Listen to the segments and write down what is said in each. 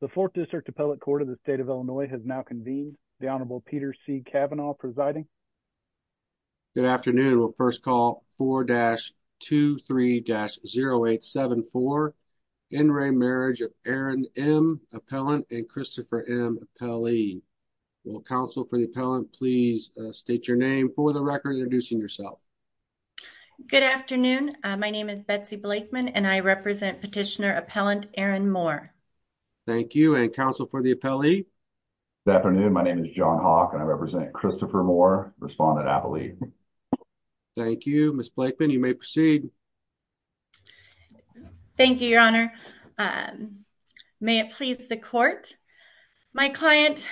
The 4th District Appellate Court of the State of Illinois has now convened. The Honorable Peter C. Kavanaugh presiding. Good afternoon. We'll first call 4-23-0874, In Re Marriage of Erin M. Appellant and Christopher M. Appellee. Will counsel for the appellant please state your name for the record introducing yourself. Good afternoon. My name is Betsy Blakeman and I represent Petitioner Appellant Erin Moore. Thank you and counsel for the appellee. Good afternoon. My name is John Hawk and I represent Christopher Moore, Respondent Appellee. Thank you. Ms. Blakeman, you may proceed. Thank you, Your Honor. May it please the court. My client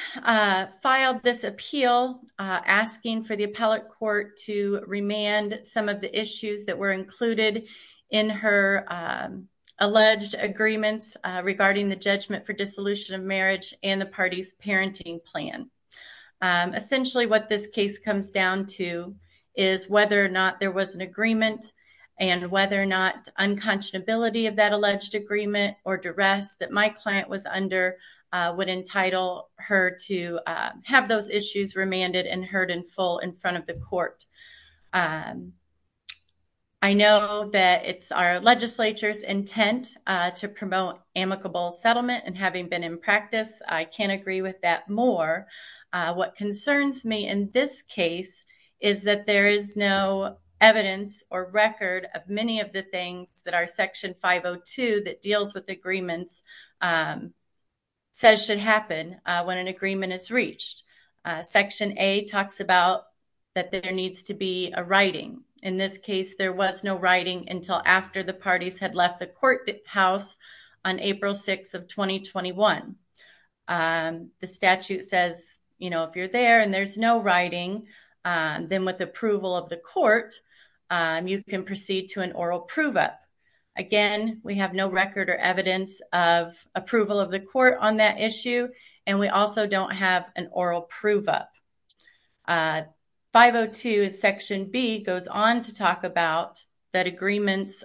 filed this appeal asking for the appellate court to remand some of the issues that were included in her alleged agreements regarding the judgment for dissolution of marriage and the party's parenting plan. Essentially, what this case comes down to is whether or not there was an agreement and whether or not unconscionability of that alleged agreement or duress that my client was under would entitle her to have those issues remanded and heard in full in front of the court. I know that it's our legislature's intent to promote amicable settlement and having been in practice, I can't agree with that more. What concerns me in this case is that there is no evidence or record of many of the things that our Section 502 that deals with agreements says should happen when an agreement is reached. Section A talks about that there needs to be a writing. In this case, there was no writing until after the parties had left the courthouse on April 6th of 2021. The statute says, you know, if you're there and there's no writing, then with approval of the court, you can proceed to an oral prove-up. Again, we have no record or evidence of approval of the court on that issue, and we also don't have an oral prove-up. 502 in Section B goes on to talk about that agreements,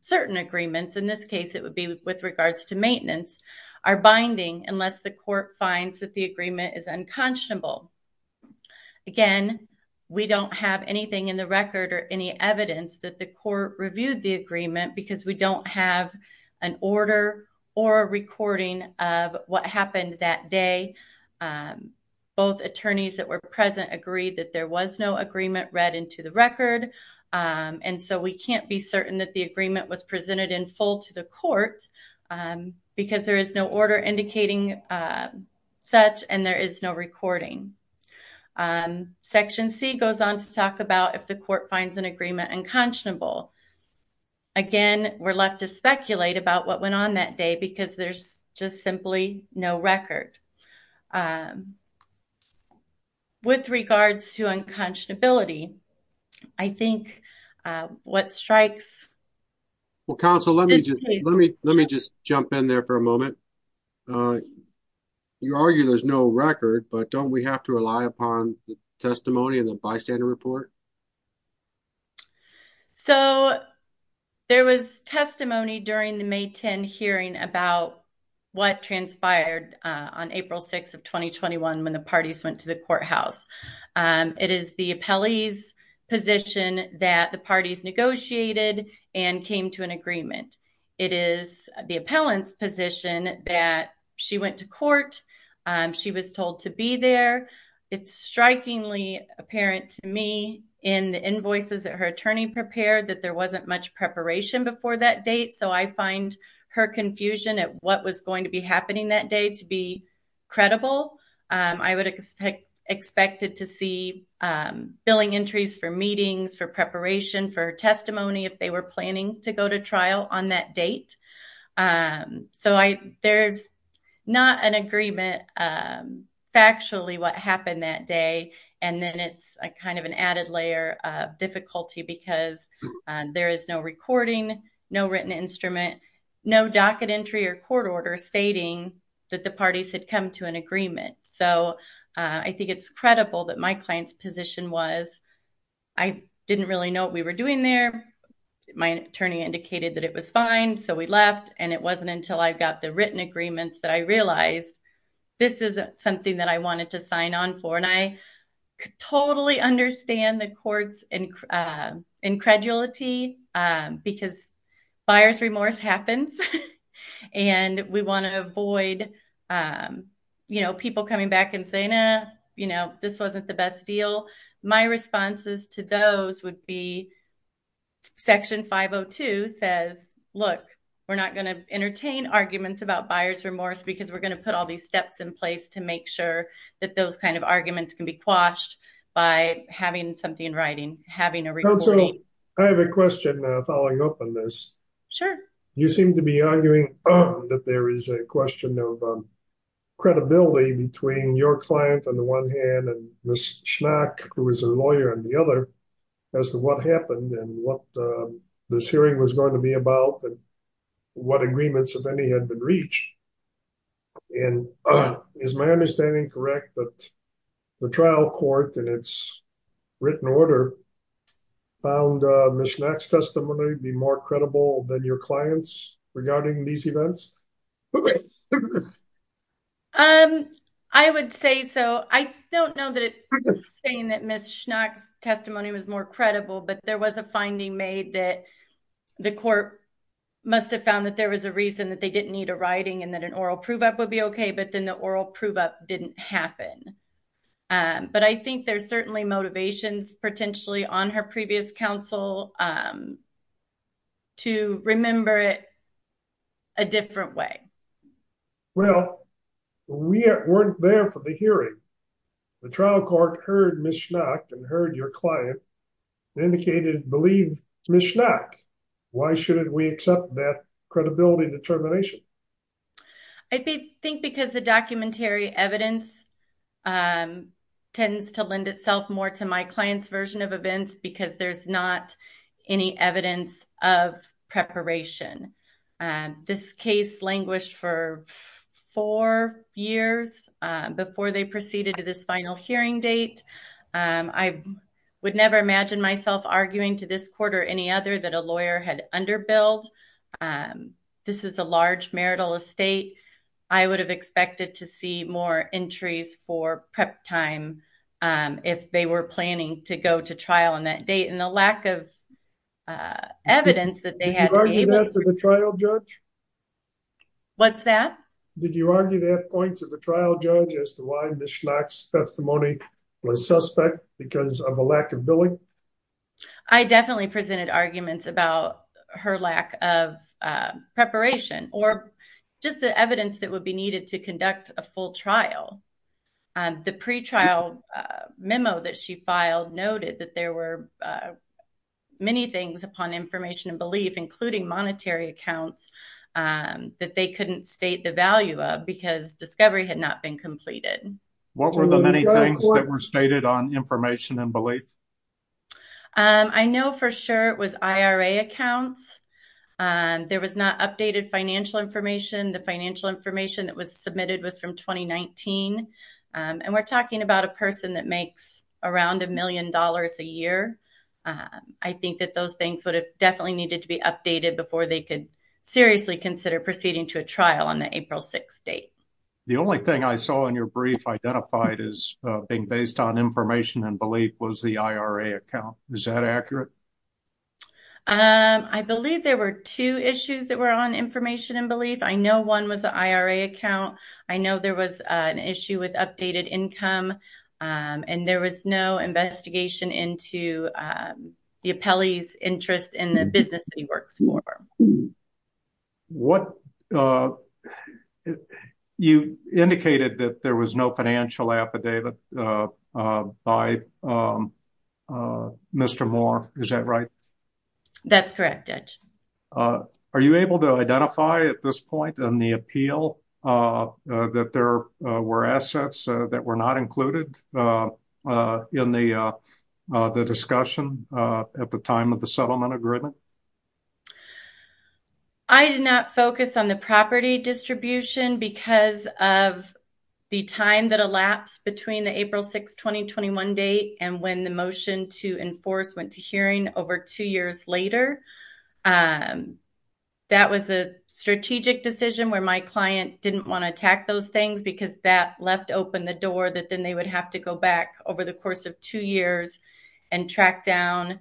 certain agreements, in this case it would be with regards to maintenance, are binding unless the court finds that the agreement is unconscionable. Again, we don't have anything in the record or any evidence that the court reviewed the agreement because we don't have an order or a recording of what happened that day. Both attorneys that were present agreed that there was no agreement read into the record, and so we can't be certain that the agreement was presented in full to the court because there is no order indicating such and there is no recording. Section C goes on to talk about if the court finds an agreement unconscionable. Again, we're left to speculate about what went on that day because there's just simply no record. With regards to unconscionability, I think what strikes... Well, counsel, let me just jump in there for a moment. You argue there's no record, but don't we have to rely upon the testimony in the bystander report? So, there was testimony during the May 10 hearing about what transpired on April 6 of 2021 when the parties went to the courthouse. It is the appellee's position that the parties negotiated and came to an agreement. It is the appellant's position that she went to court, she was told to be there. It's strikingly apparent to me in the invoices that her attorney prepared that there wasn't much preparation before that date, so I find her confusion at what was going to be happening that day to be credible. I would expect it to see billing entries for meetings, for preparation, for testimony if they were planning to go to trial on that date. So, there's not an agreement factually what happened that day, and then it's kind of an added layer of difficulty because there is no recording, no written instrument, no docket entry or court order stating that the parties had come to an agreement. So, I think it's credible that my client's position was, I didn't really know what we left, and it wasn't until I got the written agreements that I realized this is something that I wanted to sign on for, and I totally understand the court's incredulity because buyer's remorse happens, and we want to avoid people coming back and saying, you know, this wasn't the best deal. My responses to those would be section 502 says, look, we're not going to entertain arguments about buyer's remorse because we're going to put all these steps in place to make sure that those kind of arguments can be quashed by having something in writing, having a recording. I have a question following up on this. Sure. You seem to be arguing that there is a question of credibility between your client on the one hand and Ms. Schnack, who is a lawyer on the other, as to what happened and what this hearing was going to be about and what agreements, if any, had been reached. And is my understanding correct that the trial court in its written order found Ms. Schnack's testimony to be more credible than your client's regarding these events? I would say so. I don't know that it's saying that Ms. Schnack's testimony was more credible, but there was a finding made that the court must have found that there was a reason that they didn't need a writing and that an oral prove-up would be okay, but then the oral prove-up didn't happen. But I think there's certainly motivations potentially on her previous counsel to remember it a different way. Well, we weren't there for the hearing. The trial court heard Ms. Schnack and heard your client and indicated, believe Ms. Schnack, why shouldn't we accept that credibility determination? I think because the documentary evidence tends to lend itself more to my client's version of events because there's not any evidence of preparation. This case languished for four years before they proceeded to this final hearing date. I would never imagine myself arguing to this court or any other that a lawyer had underbilled. This is a large marital estate. I would have expected to see more entries for prep time if they were planning to go to trial on that date. And the lack of evidence that they had to be able to- Did you argue that to the trial judge? What's that? Did you argue that point to the trial judge as to why Ms. Schnack's testimony was suspect because of a lack of billing? I definitely presented arguments about her lack of preparation or just the evidence that would be needed to conduct a full trial. The pretrial memo that she filed noted that there were many things upon information and belief, including monetary accounts, that they couldn't state the value of because discovery had not been completed. What were the many things that were stated on information and belief? I know for sure it was IRA accounts. There was not updated financial information. The financial information that was submitted was from 2019. And we're talking about a person that makes around a million dollars a year. I think that those things would have definitely needed to be updated before they could seriously consider proceeding to a trial on the April 6th date. The only thing I saw in your brief identified as being based on information and belief was the IRA account. Is that accurate? I believe there were two issues that were on information and belief. I know one was the IRA account. I know there was an issue with updated income. And there was no investigation into the appellee's interest in the business that he works for. You indicated that there was no financial affidavit by Mr. Moore. Is that right? That's correct, Judge. Are you able to identify at this point in the appeal that there were assets that were not included in the discussion at the time of the settlement agreement? I did not focus on the property distribution because of the time that elapsed between the April 6th 2021 date and when the motion to enforce went to hearing over two years later. That was a strategic decision where my client didn't want to attack those things because that left open the door that then they would have to go back over the course of two years and track down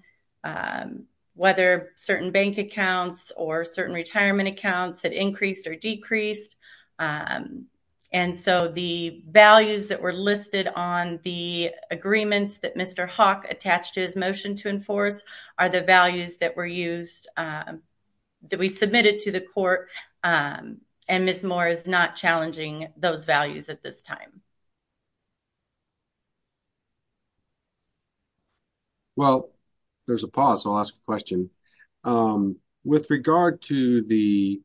whether certain bank accounts or certain retirement accounts had increased or decreased. And so the values that were listed on the agreements that Mr. Hawk attached to his motion to enforce are the values that were used that we submitted to the court. And Ms. Moore is not challenging those values at this time. Well, there's a pause. I'll ask a question with regard to the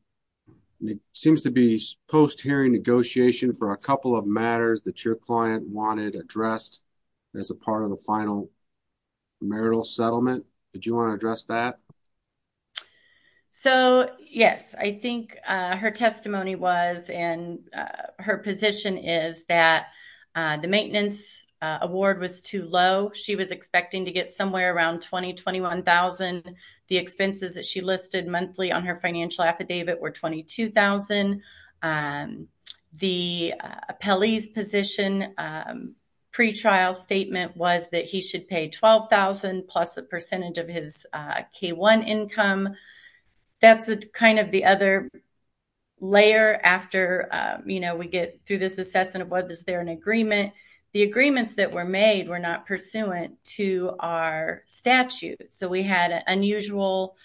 seems to be post hearing negotiation for a couple of matters that your client wanted addressed as a part of the final marital settlement. Did you want to address that? So, yes, I think her testimony was and her position is that the settlement agreement that the maintenance award was too low. She was expecting to get somewhere around 20, 21,000. The expenses that she listed monthly on her financial affidavit were 22,000. The police position pretrial statement was that he should pay 12,000 plus a percentage of his K-1 income. That's kind of the other layer after we get through this assessment of whether there's an agreement. The agreements that were made were not pursuant to our statute. So we had an unusual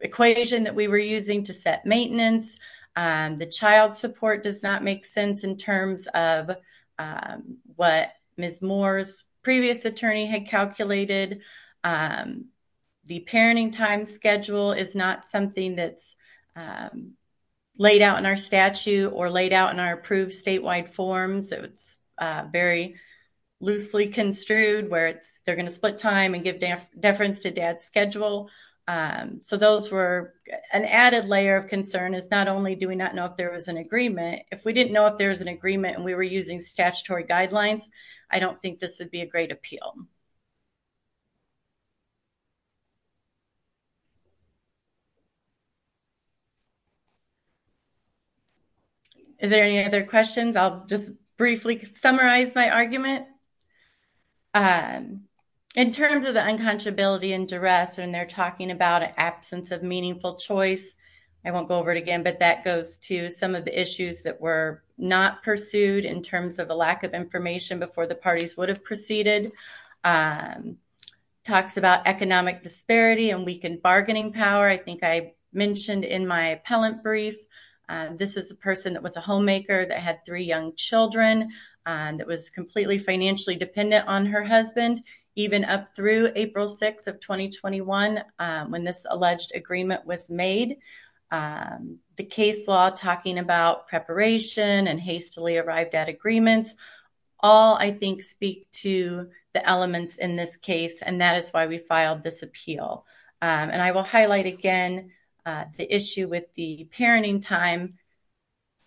equation that we were using to set maintenance. The child support does not make sense in terms of what Ms. Moore's previous attorney had calculated. The parenting time schedule is not something that's laid out in our statute or laid out in our approved statewide forms. It's very loosely construed where they're going to split time and give deference to dad's schedule. So those were an added layer of concern is not only do we not know if there was an agreement. If we didn't know if there was an agreement and we were using statutory guidelines, I don't think this would be a great appeal. Thank you. Is there any other questions? I'll just briefly summarize my argument. In terms of the unconscionability and duress when they're talking about absence of meaningful choice, I won't go over it again, but that goes to some of the issues that were not pursued in terms of a lack of information before the parties would have proceeded. Talks about economic disparity and weakened bargaining power. I think I mentioned in my appellant brief, this is a person that was a homemaker that had three young children and that was completely financially dependent on her husband, even up through April 6 of 2021 when this alleged agreement was made. The case law talking about preparation and hastily arrived at agreements, all I think speak to the elements in this case. And that is why we filed this appeal. And I will highlight again the issue with the parenting time.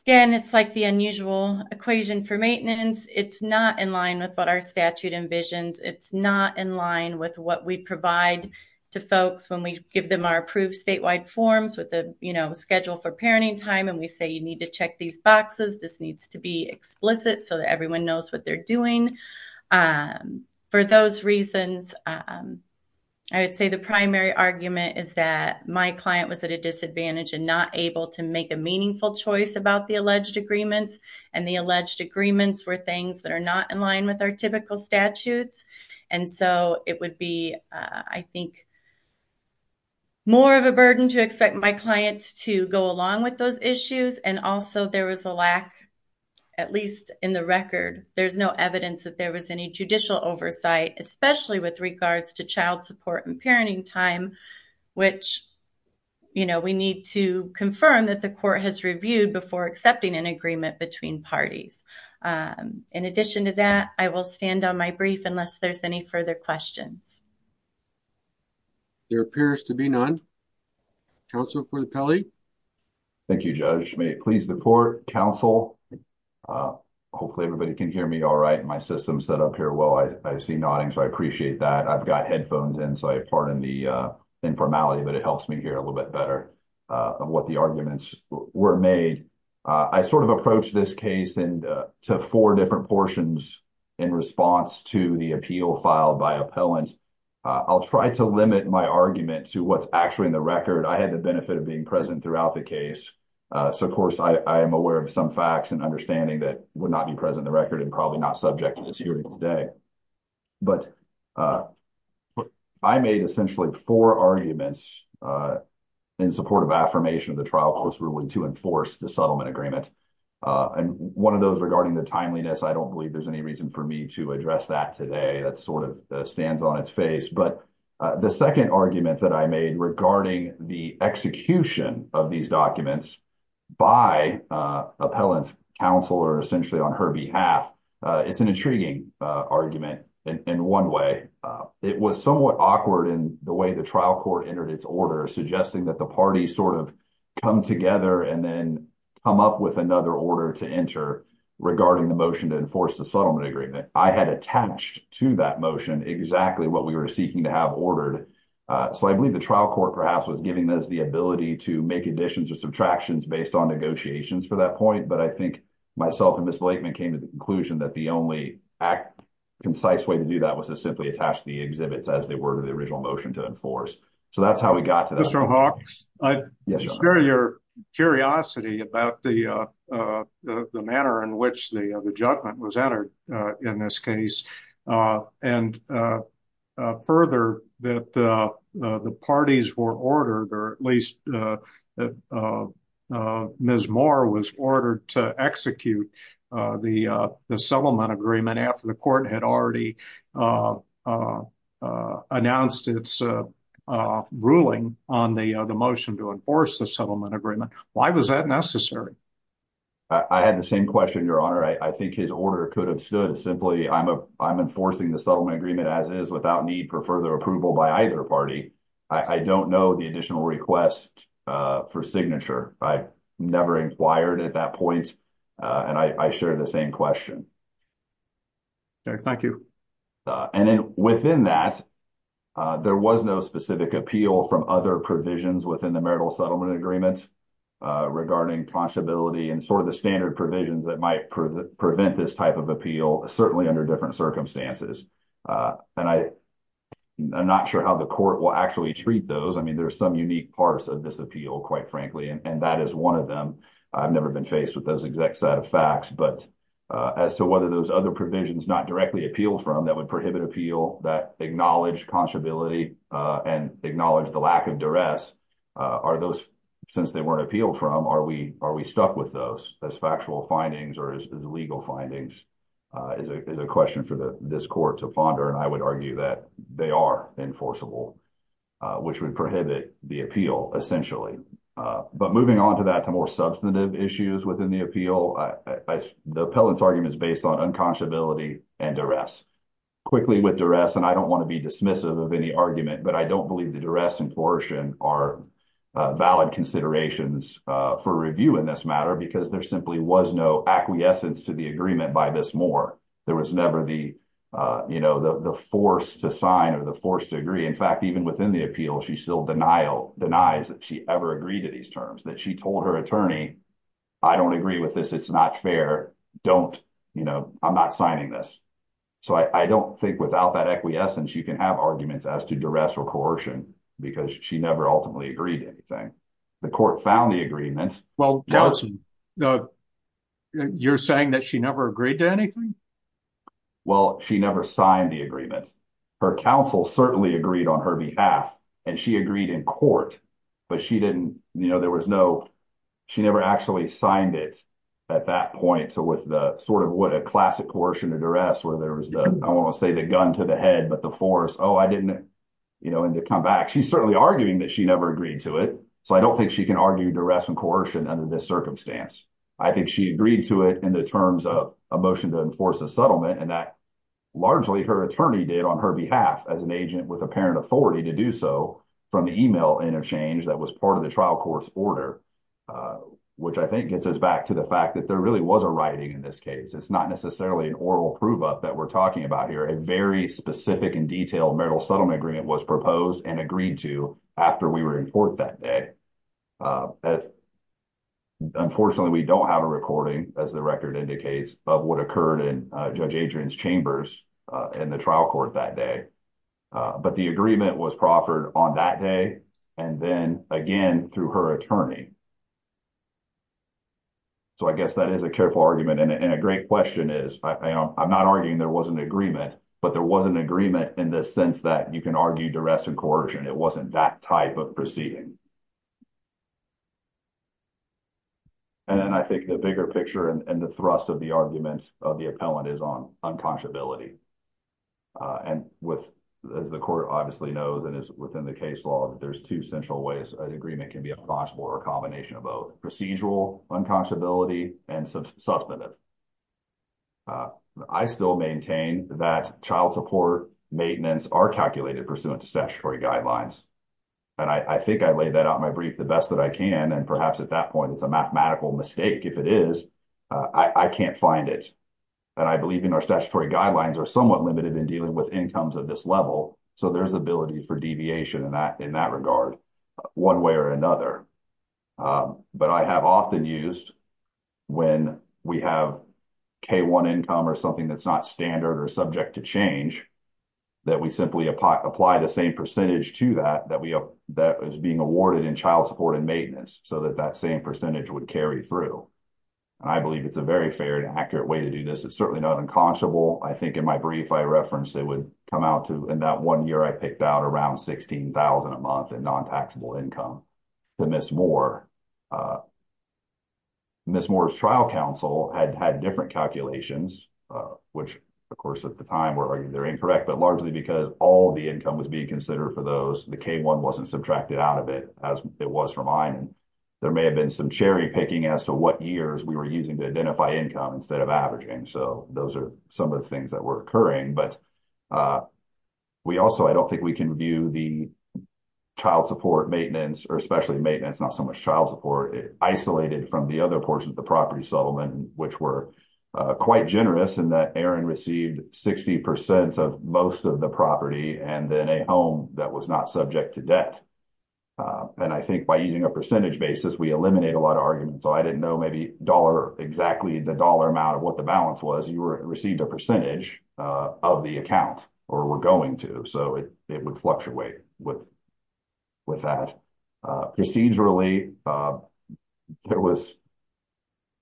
Again, it's like the unusual equation for maintenance. It's not in line with what our statute envisions. It's not in line with what we provide to folks when we give them our approved statewide forms with the schedule for parenting time. And we say, you need to check these boxes. This needs to be explicit so that everyone knows what they're doing. For those reasons, I would say the primary argument is that my client was at a disadvantage and not able to make a meaningful choice about the alleged agreements. And the alleged agreements were things that are not in line with our typical statutes. And so it would be, I think, more of a burden to expect my clients to go along with those issues. And also, there was a lack, at least in the record, there's no evidence that there was any judicial oversight, especially with regards to child support and parenting time, which we need to confirm that the court has reviewed before accepting an agreement between parties. In addition to that, I will stand on my brief unless there's any further questions. There appears to be none. Counsel for the Pele? Thank you, Judge. May it please the court, counsel. Hopefully everybody can hear me all right. My system's set up here well. I see nodding, so I appreciate that. I've got headphones in, so I pardon the informality, but it helps me hear a little bit better of what the arguments were made. I sort of approached this case to four different portions in response to the appeal filed by appellants. I'll try to limit my argument to what's actually in the record. I had the benefit of being present throughout the case. So, of course, I am aware of some facts and understanding that would not be present in the record and probably not subject to this hearing today. But I made essentially four arguments in support of affirmation of the trial post ruling to enforce the settlement agreement. And one of those regarding the timeliness, I don't believe there's any reason for me to address that today. That sort of stands on its face. But the second argument that I made regarding the execution of these documents by appellants, counsel, or essentially on her behalf, it's an intriguing argument in one way. It was somewhat awkward in the way the trial court entered its order, suggesting that the parties sort of come together and then come up with another order to enter regarding the motion to enforce the settlement agreement. I had attached to that motion exactly what we were seeking to have ordered. So I believe the trial court perhaps was giving us the ability to make additions or subtractions based on negotiations for that point. But I think myself and Ms. Blakeman came to the conclusion that the only concise way to do that was to simply attach the exhibits as they were to the original motion to enforce. So that's how we got to that. I share your curiosity about the manner in which the judgment was entered in this case. And further, that the parties were ordered, or at least Ms. Moore was ordered to execute the settlement agreement after the court had already announced its ruling on the motion to enforce the settlement agreement. Why was that necessary? I had the same question, Your Honor. I think his order could have stood simply, I'm enforcing the settlement agreement as is without need for further approval by either party. I don't know the additional request for signature. I never inquired at that point. And I share the same question. Thank you. And then within that, there was no specific appeal from other provisions within the marital settlement agreement regarding possibility and sort of the standard provisions that might prevent this type of appeal, certainly under different circumstances. And I'm not sure how the court will actually treat those. I mean, there's some unique parts of this appeal, quite frankly. And that is one of them. I've never been faced with those exact set of facts. But as to whether those other provisions not directly appealed from, that would prohibit appeal, that acknowledge possibility and acknowledge the lack of duress, are those, since they weren't appealed from, are we stuck with those as factual findings or as legal findings, is a question for this court to ponder. And I would argue that they are enforceable, which would prohibit the appeal, essentially. But moving on to that, to more substantive issues within the appeal, the appellant's argument is based on unconscionability and duress. Quickly, with duress, and I don't want to be dismissive of any argument, but I don't believe the duress and coercion are valid considerations for review in this matter because there simply was no acquiescence to the agreement by this moor. There was never the force to sign or the force to agree. In fact, even within the appeal, she still denies that she ever agreed to these terms, that she told her attorney, I don't agree with this, it's not fair, I'm not signing this. So I don't think without that acquiescence, you can have arguments as to duress or coercion because she never ultimately agreed to anything. The court found the agreement. Well, you're saying that she never agreed to anything? Well, she never signed the agreement. Her counsel certainly agreed on her behalf, and she agreed in court, but she never actually signed it at that point, so with sort of what a classic coercion or duress where there was the, I don't want to say the gun to the head, but the force, oh, I didn't come back. She's certainly arguing that she never agreed to it, so I don't think she can argue duress and coercion under this circumstance. I think she agreed to it in the terms of a motion to enforce a settlement, and that largely her attorney did on her behalf as an agent with apparent authority to do so from the e-mail interchange that was part of the trial court's order, which I think gets us back to the fact that there really was a writing in this case. It's not necessarily an oral prove-up that we're talking about here. A very specific and detailed marital settlement agreement was proposed and agreed to after we were in court that day. Unfortunately, we don't have a recording, as the record indicates, of what occurred in Judge Adrian's chambers in the trial court that day, but the agreement was proffered on that day and then again through her attorney. So I guess that is a careful argument, and a great question is, I'm not arguing there was an agreement, but there was an agreement in the sense that you can argue duress and coercion. It wasn't that type of proceeding. And then I think the bigger picture and the thrust of the argument of the appellant is on unconscionability. And as the court obviously knows and is within the case law, there's two central ways an agreement can be a possible or a combination of both, procedural unconscionability and substantive. I still maintain that child support maintenance are calculated pursuant to statutory guidelines, and I think I laid that out in my brief the best that I can, and perhaps at that point it's a mathematical mistake. If it is, I can't find it. And I believe in our statutory guidelines are somewhat limited in dealing with incomes of this level, so there's ability for deviation in that regard one way or another. But I have often used when we have K-1 income or something that's not standard or subject to change, that we simply apply the same percentage to that that is being awarded in child support and maintenance, so that that same percentage would carry through. And I believe it's a very fair and accurate way to do this. It's certainly not unconscionable. I think in my brief I referenced it would come out to in that one year I picked out around $16,000 a month in non-taxable income to Ms. Moore. Ms. Moore's trial counsel had had different calculations, which, of course, at the time were either incorrect, but largely because all of the income was being considered for those. The K-1 wasn't subtracted out of it as it was for mine. There may have been some cherry-picking as to what years we were using to identify income instead of averaging, so those are some of the things that were occurring. But we also, I don't think we can view the child support maintenance, or especially maintenance, not so much child support, isolated from the other portion of the property settlement, which were quite generous in that Erin received 60% of most of the property and then a home that was not subject to debt. And I think by using a percentage basis, we eliminate a lot of arguments. So I didn't know maybe exactly the dollar amount of what the balance was. You received a percentage of the account, or were going to, so it would fluctuate with that. Procedurally,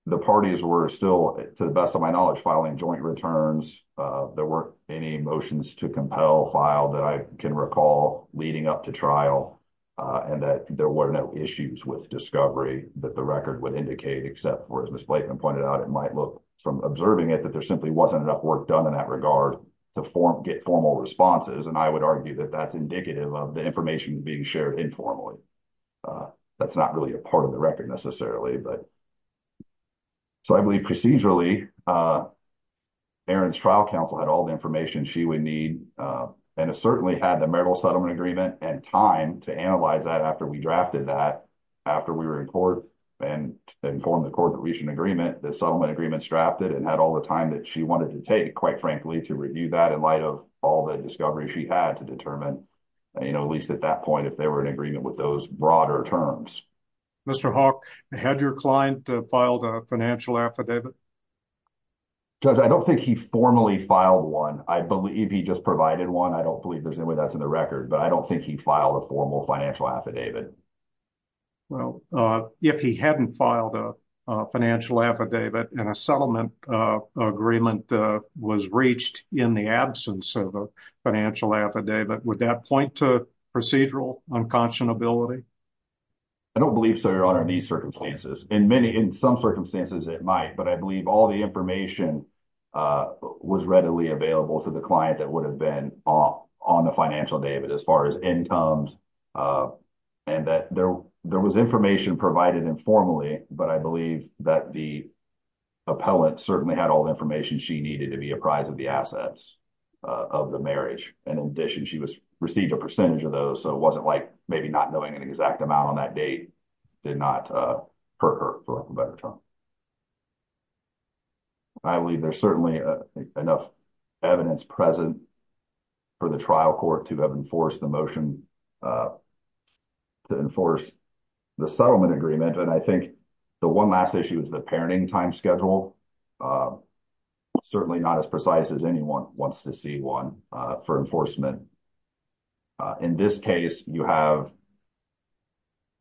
the parties were still, to the best of my knowledge, filing joint returns. There weren't any motions to compel file that I can recall leading up to trial, and that there were no issues with discovery that the record would indicate, except for, as Ms. Blatman pointed out, it might look from observing it, that there simply wasn't enough work done in that regard to get formal responses, and I would argue that that's indicative of the information being shared informally. That's not really a part of the record, necessarily. So I believe procedurally, Erin's trial counsel had all the information she would need and certainly had the marital settlement agreement and time to analyze that after we drafted that. After we were in court and informed the court to reach an agreement, the settlement agreement's drafted and had all the time that she wanted to take, quite frankly, to review that in light of all the discovery she had to determine, at least at that point, if they were in agreement with those broader terms. Mr. Hawk, had your client filed a financial affidavit? Judge, I don't think he formally filed one. I believe he just provided one. I don't believe there's any way that's in the record, but I don't think he filed a formal financial affidavit. Well, if he hadn't filed a financial affidavit and a settlement agreement was reached in the absence of a financial affidavit, would that point to procedural unconscionability? I don't believe so, Your Honor, in these circumstances. In some circumstances, it might, but I believe all the information was readily available to the client that would have been on the financial affidavit as far as incomes and that there was information provided informally, but I believe that the appellant certainly had all the information she needed to be apprised of the assets of the marriage. In addition, she received a percentage of those, so it wasn't like maybe not knowing an exact amount on that date did not hurt her for the better term. I believe there's certainly enough evidence present for the trial court to have enforced the motion to enforce the settlement agreement, and I think the one last issue is the parenting time schedule, certainly not as precise as anyone wants to see one for enforcement. In this case, you have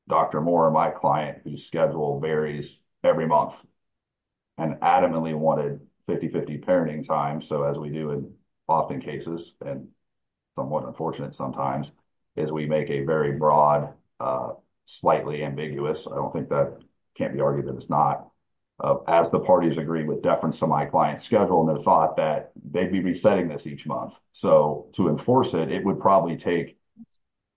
Dr. Moore, my client, whose schedule varies every month and adamantly wanted 50-50 parenting time, so as we do in often cases and somewhat unfortunate sometimes, is we make a very broad, slightly ambiguous, I don't think that can be argued that it's not, as the parties agree with deference to my client's schedule and the thought that they'd be resetting this each month. So to enforce it, it would probably take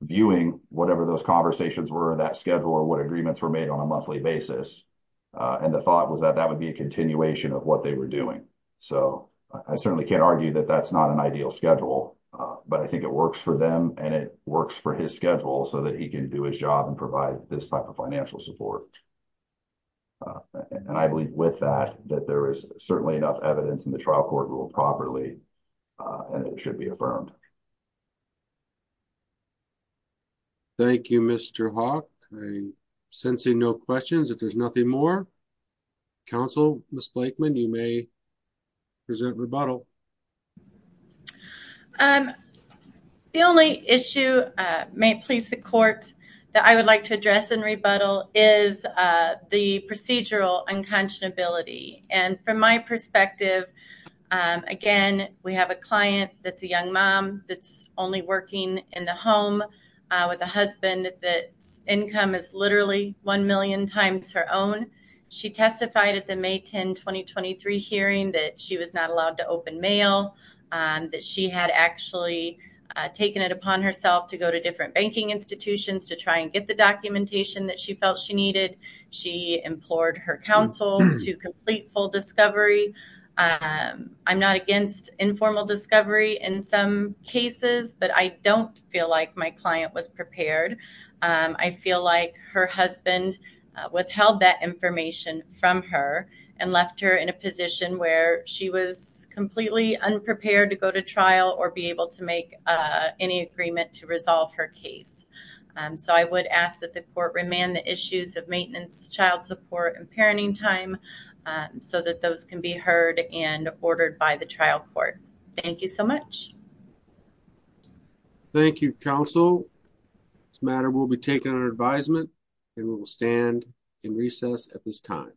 viewing whatever those conversations were in that schedule or what agreements were made on a monthly basis, and the thought was that that would be a continuation of what they were doing. So I certainly can't argue that that's not an ideal schedule, but I think it works for them and it works for his schedule so that he can do his job and provide this type of financial support. And I believe with that that there is certainly enough evidence in the trial court rule properly and it should be affirmed. Thank you, Mr. Hawk. I'm sensing no questions if there's nothing more. Counsel, Ms. Blakeman, you may present rebuttal. The only issue, may it please the court, that I would like to address in rebuttal is the procedural unconscionability. And from my perspective, again, we have a client that's a young mom that's only working in the home with a husband that's income is literally one million times her own. She testified at the May 10, 2023 hearing that she was not allowed to open mail, that she had actually taken it upon herself to go to different banking institutions to try and get the documentation that she felt she needed. She implored her counsel to complete full discovery. I'm not against informal discovery in some cases, but I don't feel like my client was prepared. I feel like her husband withheld that information from her and left her in a position where she was completely unprepared to go to trial or be able to make any agreement to resolve her case. So I would ask that the court remand the issues of maintenance, child support, and parenting time so that those can be heard and ordered by the trial court. Thank you so much. Thank you, counsel. This matter will be taken under advisement and we will stand in recess at this time.